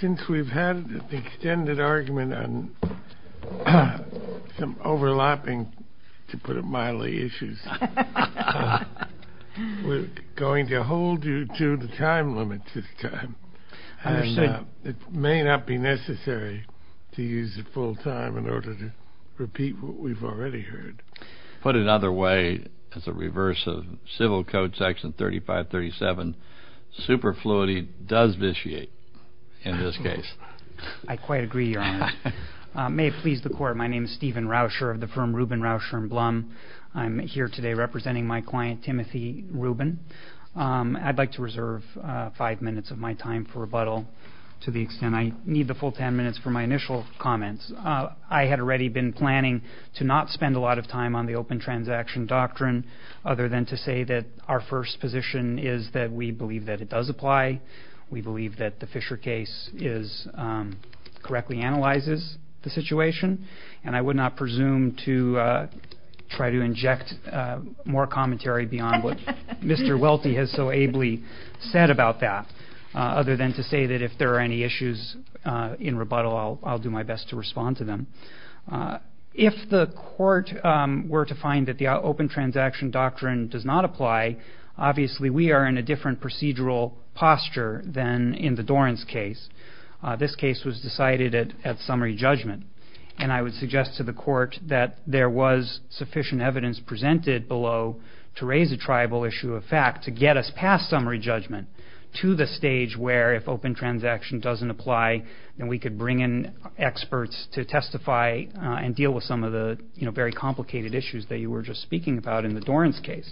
Since we've had an extended argument on some overlapping, to put it mildly, issues, we're going to hold you to the time limit this time. It may not be necessary to use the full time in order to repeat what we've already heard. Put another way, as a reverse of Civil Code Section 3537, superfluity does vitiate in this case. I quite agree, Your Honor. May it please the Court, my name is Stephen Rauscher of the firm Reuben, Rauscher & Blum. I'm here today representing my client, Timothy Reuben. I'd like to reserve five minutes of my time for rebuttal to the extent I need the full ten minutes for my initial comments. I had already been planning to not spend a lot of time on the open transaction doctrine, other than to say that our first position is that we believe that it does apply. We believe that the Fisher case correctly analyzes the situation, and I would not presume to try to inject more commentary beyond what Mr. Welty has so ably said about that, other than to say that if there are any issues in rebuttal, I'll do my best to respond to them. If the Court were to find that the open transaction doctrine does not apply, obviously we are in a different procedural posture than in the Dorans case. This case was decided at summary judgment, and I would suggest to the Court that there was sufficient evidence presented below to raise a tribal issue of fact to get us past summary judgment to the stage where if open transaction doesn't apply, then we could bring in experts to testify and deal with some of the very complicated issues that you were just speaking about in the Dorans case.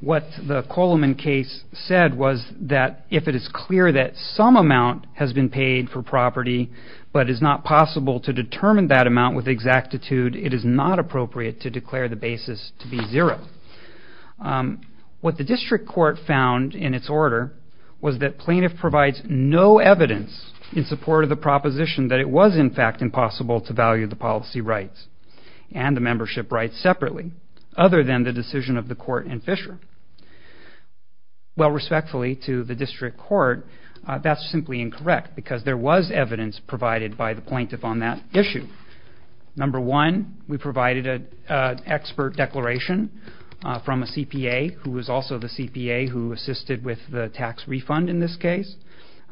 What the Coleman case said was that if it is clear that some amount has been paid for property, but it is not possible to determine that amount with exactitude, it is not appropriate to declare the basis to be zero. What the District Court found in its order was that plaintiff provides no evidence in support of the proposition that it was in fact impossible to value the policy rights and the membership rights separately, Well, respectfully to the District Court, that's simply incorrect, because there was evidence provided by the plaintiff on that issue. Number one, we provided an expert declaration from a CPA, who was also the CPA who assisted with the tax refund in this case,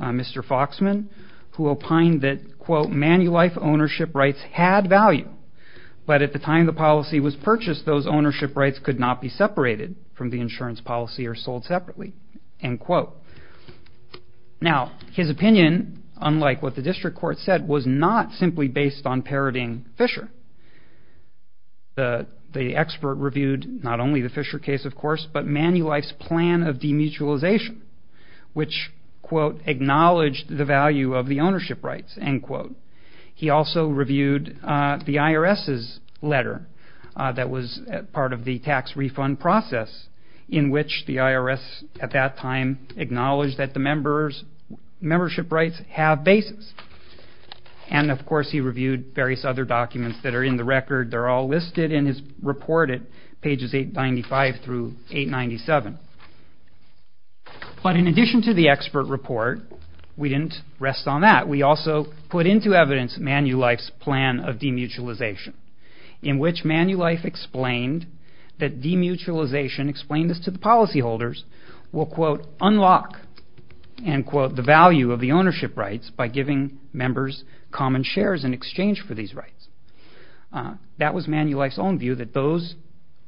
Mr. Foxman, who opined that, quote, manulife ownership rights had value, but at the time the policy was purchased, those ownership rights could not be separated from the insurance policy or sold separately, end quote. Now, his opinion, unlike what the District Court said, was not simply based on parroting Fisher. The expert reviewed not only the Fisher case, of course, but manulife's plan of demutualization, which, quote, acknowledged the value of the ownership rights, end quote. He also reviewed the IRS's letter that was part of the tax refund process, in which the IRS at that time acknowledged that the membership rights have basis. And, of course, he reviewed various other documents that are in the record. They're all listed in his report at pages 895 through 897. But in addition to the expert report, we didn't rest on that. We also put into evidence manulife's plan of demutualization, in which manulife explained that demutualization, explained this to the policyholders, will, quote, unlock, end quote, the value of the ownership rights by giving members common shares in exchange for these rights. That was manulife's own view, that those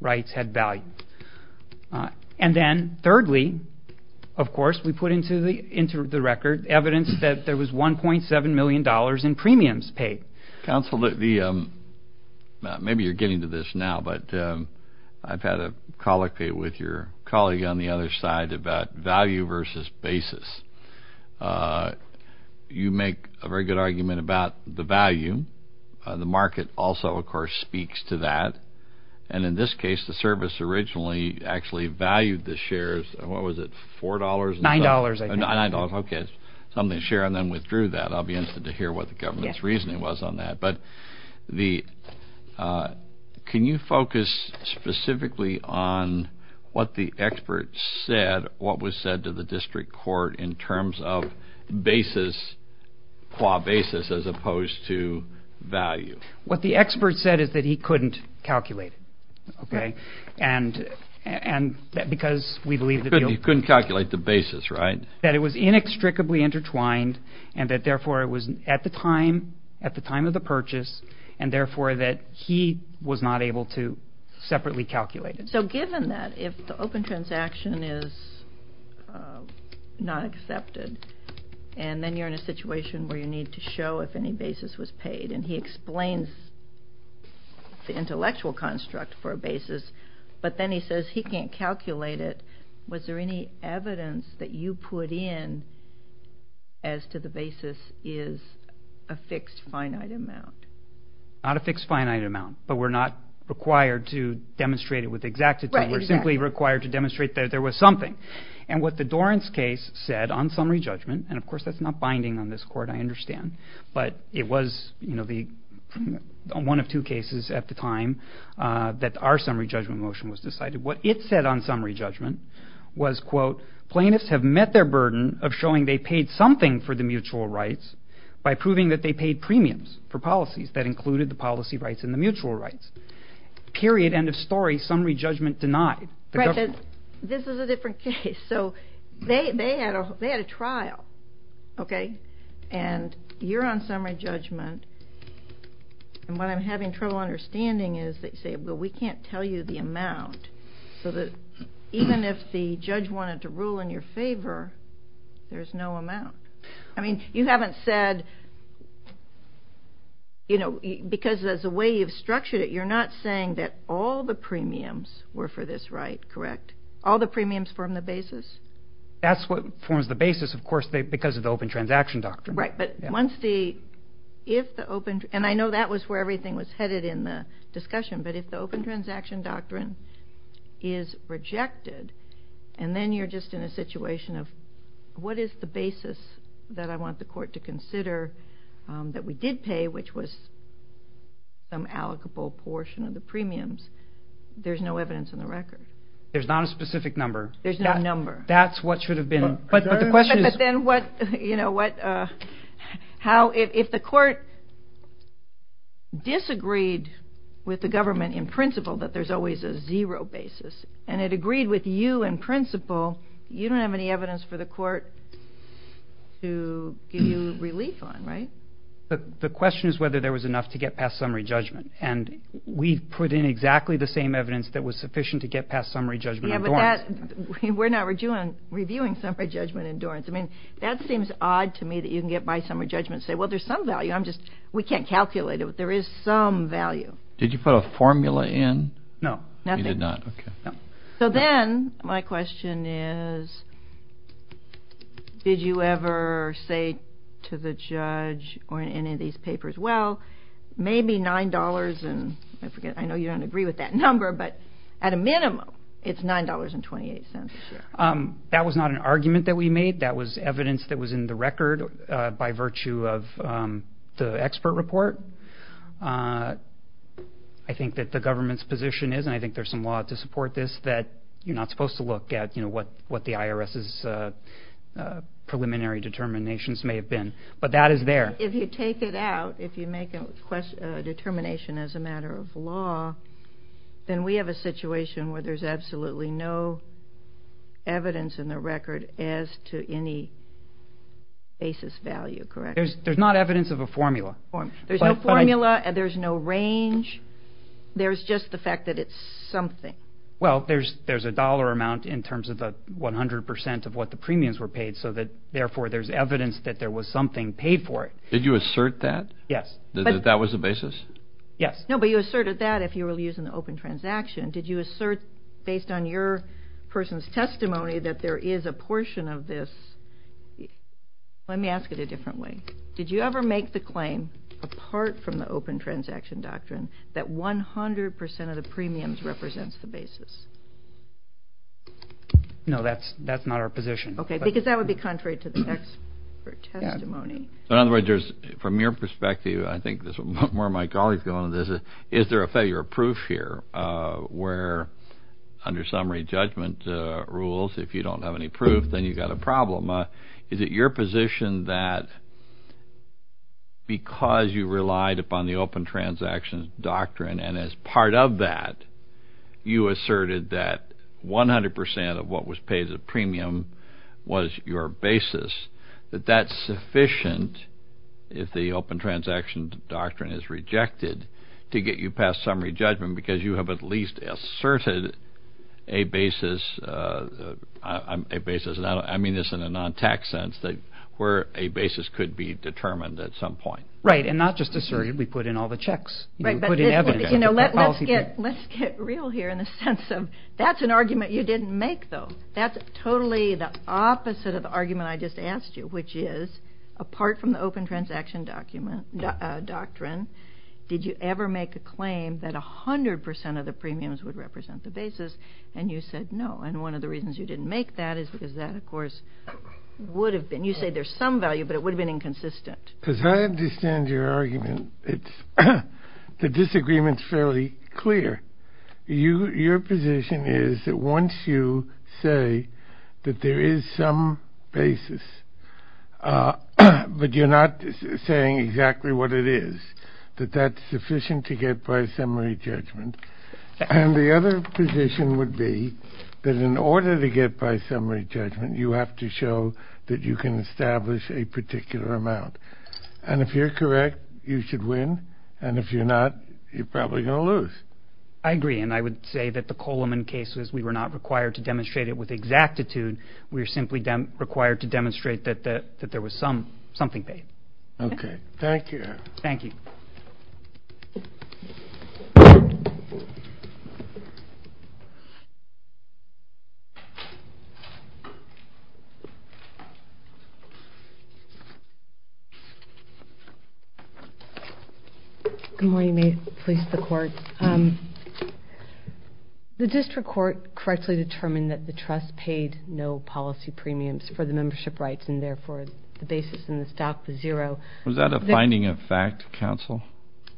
rights had value. And then, thirdly, of course, we put into the record evidence that there was $1.7 million in premiums paid. Counsel, maybe you're getting to this now, but I've had a colloquy with your colleague on the other side about value versus basis. You make a very good argument about the value. The market also, of course, speaks to that. And in this case, the service originally actually valued the shares. What was it, $4.00? $9.00, I think. $9.00, okay. Something to share, and then withdrew that. I'll be interested to hear what the government's reasoning was on that. But can you focus specifically on what the expert said, what was said to the district court in terms of basis, qua basis, as opposed to value? What the expert said is that he couldn't calculate it, okay, because we believe that he couldn't calculate the basis, right? That it was inextricably intertwined, and that, therefore, it was at the time of the purchase, and, therefore, that he was not able to separately calculate it. So given that, if the open transaction is not accepted, and then you're in a situation where you need to show if any basis was paid, and he explains the intellectual construct for a basis, but then he says he can't calculate it, was there any evidence that you put in as to the basis is a fixed finite amount? Not a fixed finite amount, but we're not required to demonstrate it with exactitude. Right, exactly. We're simply required to demonstrate that there was something. And what the Dorrance case said on summary judgment, but it was one of two cases at the time that our summary judgment motion was decided, what it said on summary judgment was, quote, plaintiffs have met their burden of showing they paid something for the mutual rights by proving that they paid premiums for policies that included the policy rights and the mutual rights. Period, end of story, summary judgment denied. This is a different case. So they had a trial, okay, and you're on summary judgment, and what I'm having trouble understanding is they say, well, we can't tell you the amount, so that even if the judge wanted to rule in your favor, there's no amount. I mean, you haven't said, you know, because of the way you've structured it, you're not saying that all the premiums were for this right, correct? All the premiums form the basis? That's what forms the basis, of course, because of the open transaction doctrine. Right, but once the, if the open, and I know that was where everything was headed in the discussion, but if the open transaction doctrine is rejected, and then you're just in a situation of what is the basis that I want the court to consider that we did pay, which was some allocable portion of the premiums, there's no evidence in the record. There's not a specific number. There's no number. That's what should have been, but the question is. But then what, you know, what, how, if the court disagreed with the government in principle that there's always a zero basis, and it agreed with you in principle, you don't have any evidence for the court to give you relief on, right? The question is whether there was enough to get past summary judgment, and we put in exactly the same evidence that was sufficient to get past summary judgment endurance. Yeah, but that, we're not reviewing summary judgment endurance. I mean, that seems odd to me that you can get by summary judgment and say, well, there's some value. I'm just, we can't calculate it, but there is some value. Did you put a formula in? No, nothing. You did not, okay. So then my question is, did you ever say to the judge or in any of these papers, well, maybe $9, and I forget, I know you don't agree with that number, but at a minimum, it's $9.28. That was not an argument that we made. That was evidence that was in the record by virtue of the expert report. I think that the government's position is, and I think there's some law to support this, that you're not supposed to look at, you know, what the IRS's preliminary determinations may have been. But that is there. But if you take it out, if you make a determination as a matter of law, then we have a situation where there's absolutely no evidence in the record as to any basis value, correct? There's not evidence of a formula. There's no formula. There's no range. There's just the fact that it's something. Well, there's a dollar amount in terms of the 100 percent of what the premiums were paid, so that therefore there's evidence that there was something paid for it. Did you assert that? Yes. That that was the basis? Yes. No, but you asserted that if you were using the open transaction. Did you assert based on your person's testimony that there is a portion of this? Let me ask it a different way. Did you ever make the claim, apart from the open transaction doctrine, that 100 percent of the premiums represents the basis? No, that's not our position. Okay, because that would be contrary to the expert testimony. In other words, from your perspective, I think this is where my colleagues go on this, is there a failure of proof here where under summary judgment rules, if you don't have any proof, then you've got a problem. Is it your position that because you relied upon the open transaction doctrine and as part of that you asserted that 100 percent of what was paid as a premium was your basis, that that's sufficient if the open transaction doctrine is rejected to get you past summary judgment because you have at least asserted a basis, and I mean this in a non-tax sense, where a basis could be determined at some point? Right, and not just asserted. We put in all the checks. Right, but let's get real here in the sense of that's an argument you didn't make, though. That's totally the opposite of the argument I just asked you, which is apart from the open transaction doctrine, did you ever make a claim that 100 percent of the premiums would represent the basis? And you said no, and one of the reasons you didn't make that is because that, of course, would have been. You say there's some value, but it would have been inconsistent. Because I understand your argument. The disagreement's fairly clear. Your position is that once you say that there is some basis, but you're not saying exactly what it is, that that's sufficient to get by summary judgment. And the other position would be that in order to get by summary judgment, you have to show that you can establish a particular amount. And if you're correct, you should win, and if you're not, you're probably going to lose. I agree, and I would say that the Coleman case, we were not required to demonstrate it with exactitude. We were simply required to demonstrate that there was something paid. Okay, thank you. Thank you. Good morning. May it please the Court. The district court correctly determined that the trust paid no policy premiums for the membership rights and, therefore, the basis in the stock was zero. Was that a finding of fact, counsel?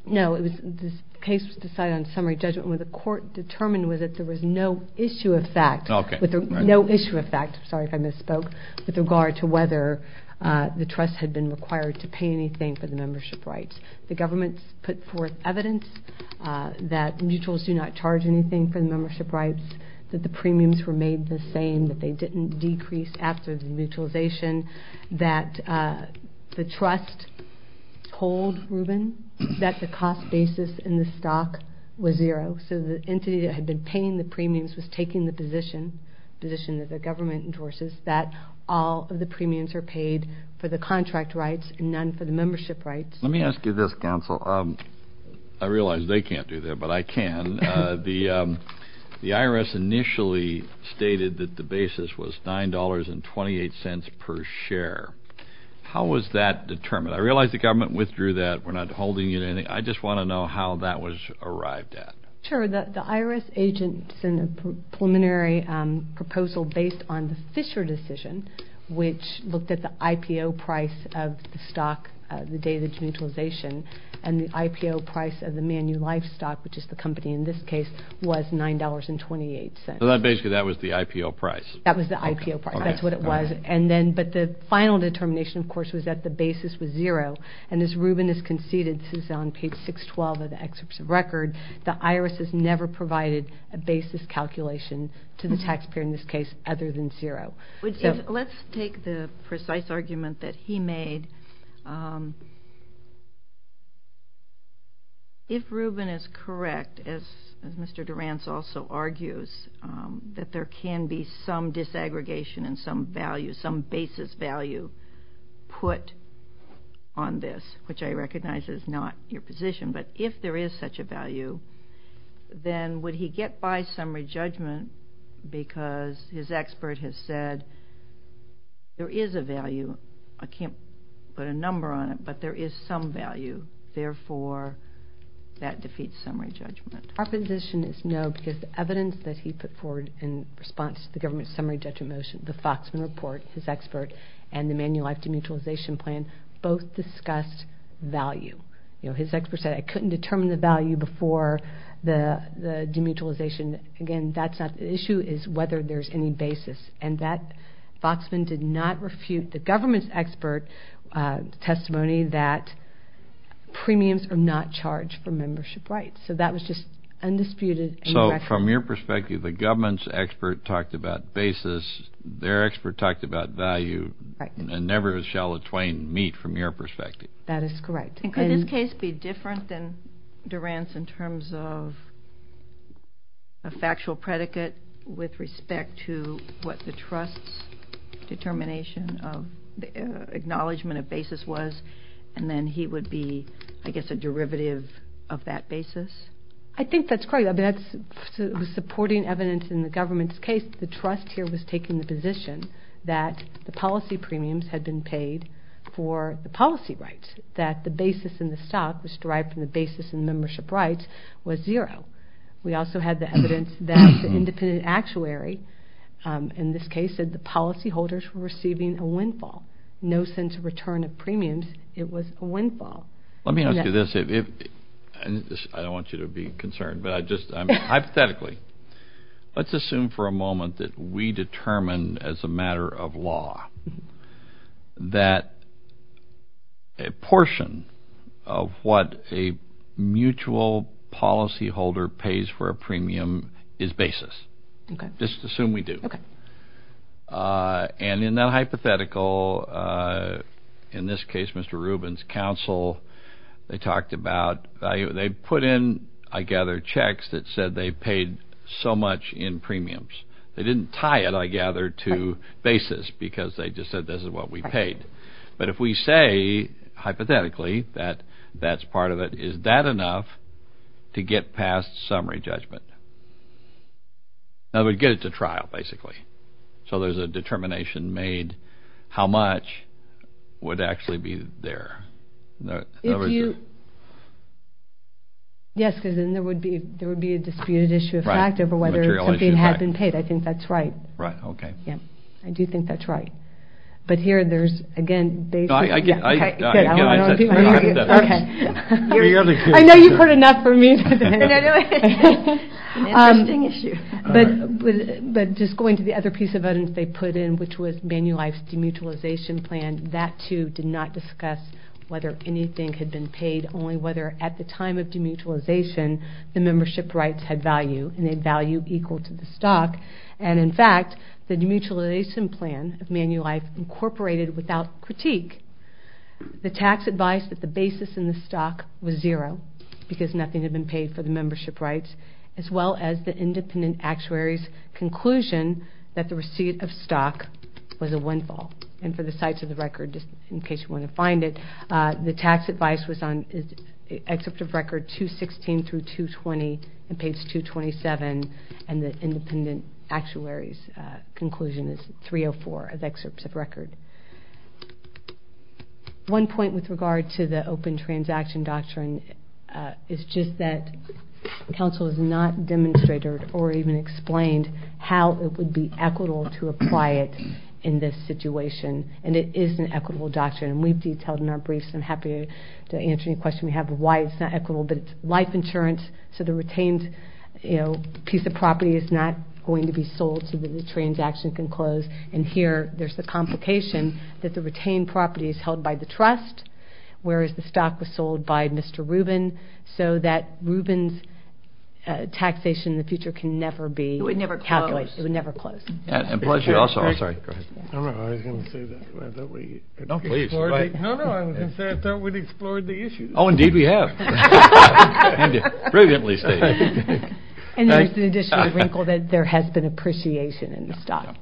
No. The case was decided on summary judgment, and what the court determined was that there was no issue of fact. Okay. No issue of fact. Sorry if I missed that. I'm sorry if I misspoke with regard to whether the trust had been required to pay anything for the membership rights. The government put forth evidence that mutuals do not charge anything for the membership rights, that the premiums were made the same, that they didn't decrease after the mutualization, that the trust told Rubin that the cost basis in the stock was zero. So the entity that had been paying the premiums was taking the position, the position that the government endorses that all of the premiums are paid for the contract rights and none for the membership rights. Let me ask you this, counsel. I realize they can't do that, but I can. The IRS initially stated that the basis was $9.28 per share. How was that determined? I realize the government withdrew that. We're not holding you to anything. I just want to know how that was arrived at. Sure. The IRS agent sent a preliminary proposal based on the Fisher decision, which looked at the IPO price of the stock the day of the mutualization, and the IPO price of the Manulife stock, which is the company in this case, was $9.28. So basically that was the IPO price. That was the IPO price. That's what it was. But the final determination, of course, was that the basis was zero, and as Ruben has conceded, this is on page 612 of the excerpt of record, the IRS has never provided a basis calculation to the taxpayer in this case other than zero. Let's take the precise argument that he made. If Ruben is correct, as Mr. Durrance also argues, that there can be some disaggregation and some value, some basis value put on this, which I recognize is not your position, but if there is such a value, then would he get by summary judgment because his expert has said there is a value. I can't put a number on it, but there is some value. Therefore, that defeats summary judgment. Our position is no because the evidence that he put forward in response to the government's summary judgment motion, the Foxman report, his expert, and the Manulife demutualization plan both discussed value. His expert said, I couldn't determine the value before the demutualization. Again, that's not the issue. The issue is whether there's any basis, and that Foxman did not refute the government's expert testimony that premiums are not charged for membership rights. So that was just undisputed. So from your perspective, the government's expert talked about basis, their expert talked about value, and never shall a twain meet from your perspective. That is correct. And could this case be different than Durrance in terms of a factual predicate with respect to what the trust's determination of acknowledgement of basis was, and then he would be, I guess, a derivative of that basis? I think that's correct. I mean, that's supporting evidence in the government's case. The trust here was taking the position that the policy premiums had been paid for the policy rights, that the basis in the stock was derived from the basis in membership rights was zero. We also had the evidence that the independent actuary, in this case, said the policyholders were receiving a windfall. No sense of return of premiums. It was a windfall. Let me ask you this. I don't want you to be concerned, but hypothetically, let's assume for a moment that we determine as a matter of law that a portion of what a mutual policyholder pays for a premium is basis. Just assume we do. And in that hypothetical, in this case, Mr. Rubin's counsel, they talked about they put in, I gather, checks that said they paid so much in premiums. They didn't tie it, I gather, to basis because they just said this is what we paid. But if we say, hypothetically, that that's part of it, is that enough to get past summary judgment? That would get it to trial, basically. So there's a determination made how much would actually be there. Yes, because then there would be a disputed issue of fact over whether something had been paid. I think that's right. Right, okay. I do think that's right. But here there's, again, basis. I know you've heard enough from me. Interesting issue. But just going to the other piece of evidence they put in, which was Manulife's demutualization plan, that, too, did not discuss whether anything had been paid, only whether at the time of demutualization the membership rights had value, and they had value equal to the stock. And, in fact, the demutualization plan of Manulife incorporated, without critique, the tax advice that the basis in the stock was zero because nothing had been paid for the membership rights, as well as the independent actuary's conclusion that the receipt of stock was a windfall. And for the sites of the record, just in case you want to find it, the tax advice was on Excerpt of Record 216 through 220, and page 227, and the independent actuary's conclusion is 304 of Excerpt of Record. One point with regard to the open transaction doctrine is just that counsel has not demonstrated or even explained how it would be equitable to apply it in this situation. And it is an equitable doctrine, and we've detailed in our briefs. I'm happy to answer any questions you have about why it's not equitable. But it's life insurance, so the retained piece of property is not going to be sold so that the transaction can close. And here there's the complication that the retained property is held by the trust, whereas the stock was sold by Mr. Rubin, so that Rubin's taxation in the future can never be calculated. It would never close. It would never close. And plus you also, I'm sorry, go ahead. I was going to say that. No, please. No, no, I was going to say I thought we'd explored the issue. Oh, indeed we have. Indeed. Brilliantly stated. And there's the additional wrinkle that there has been appreciation in the stock.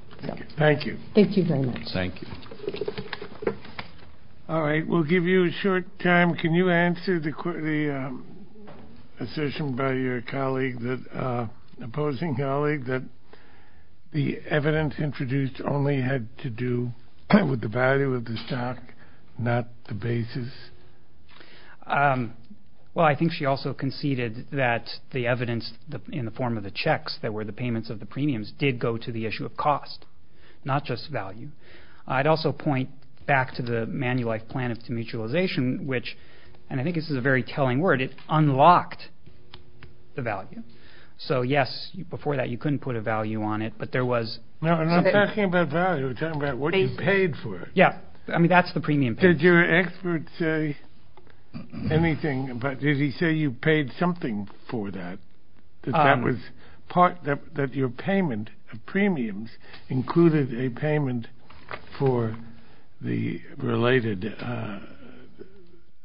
Thank you. Thank you very much. Thank you. All right, we'll give you a short time. Can you answer the assertion by your opposing colleague that the evidence introduced only had to do with the value of the stock, not the basis? Well, I think she also conceded that the evidence in the form of the checks that were the payments of the premiums did go to the issue of cost, not just value. I'd also point back to the Manulife Plan of Mutualization, which, and I think this is a very telling word, it unlocked the value. So, yes, before that you couldn't put a value on it, but there was. No, I'm not talking about value. I'm talking about what you paid for it. Yeah, I mean that's the premium. Did your expert say anything? Did he say you paid something for that, that your payment of premiums included a payment for the related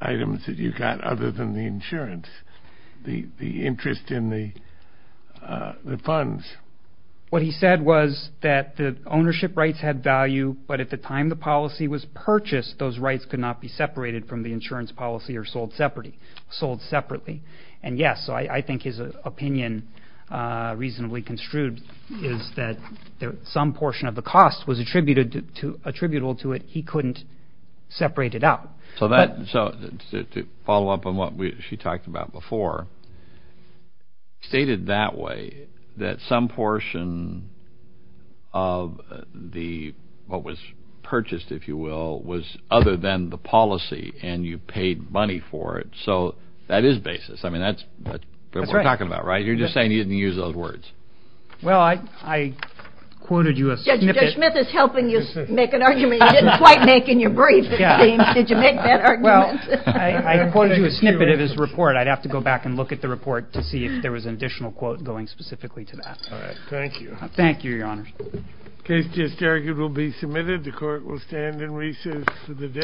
items that you got other than the insurance, the interest in the funds? What he said was that the ownership rights had value, but at the time the policy was purchased, those rights could not be separated from the insurance policy or sold separately. And, yes, so I think his opinion reasonably construed is that some portion of the cost was attributable to it. He couldn't separate it out. So to follow up on what she talked about before, he stated that way, that some portion of what was purchased, if you will, was other than the policy and you paid money for it. So that is basis. I mean that's what we're talking about, right? You're just saying you didn't use those words. Well, I quoted you a snippet. Judge Smith is helping you make an argument you didn't quite make in your brief. Did you make that argument? I quoted you a snippet of his report. I'd have to go back and look at the report to see if there was an additional quote going specifically to that. All right. Thank you. Thank you, Your Honors. The case just argued will be submitted. The Court will stand in recess for the day.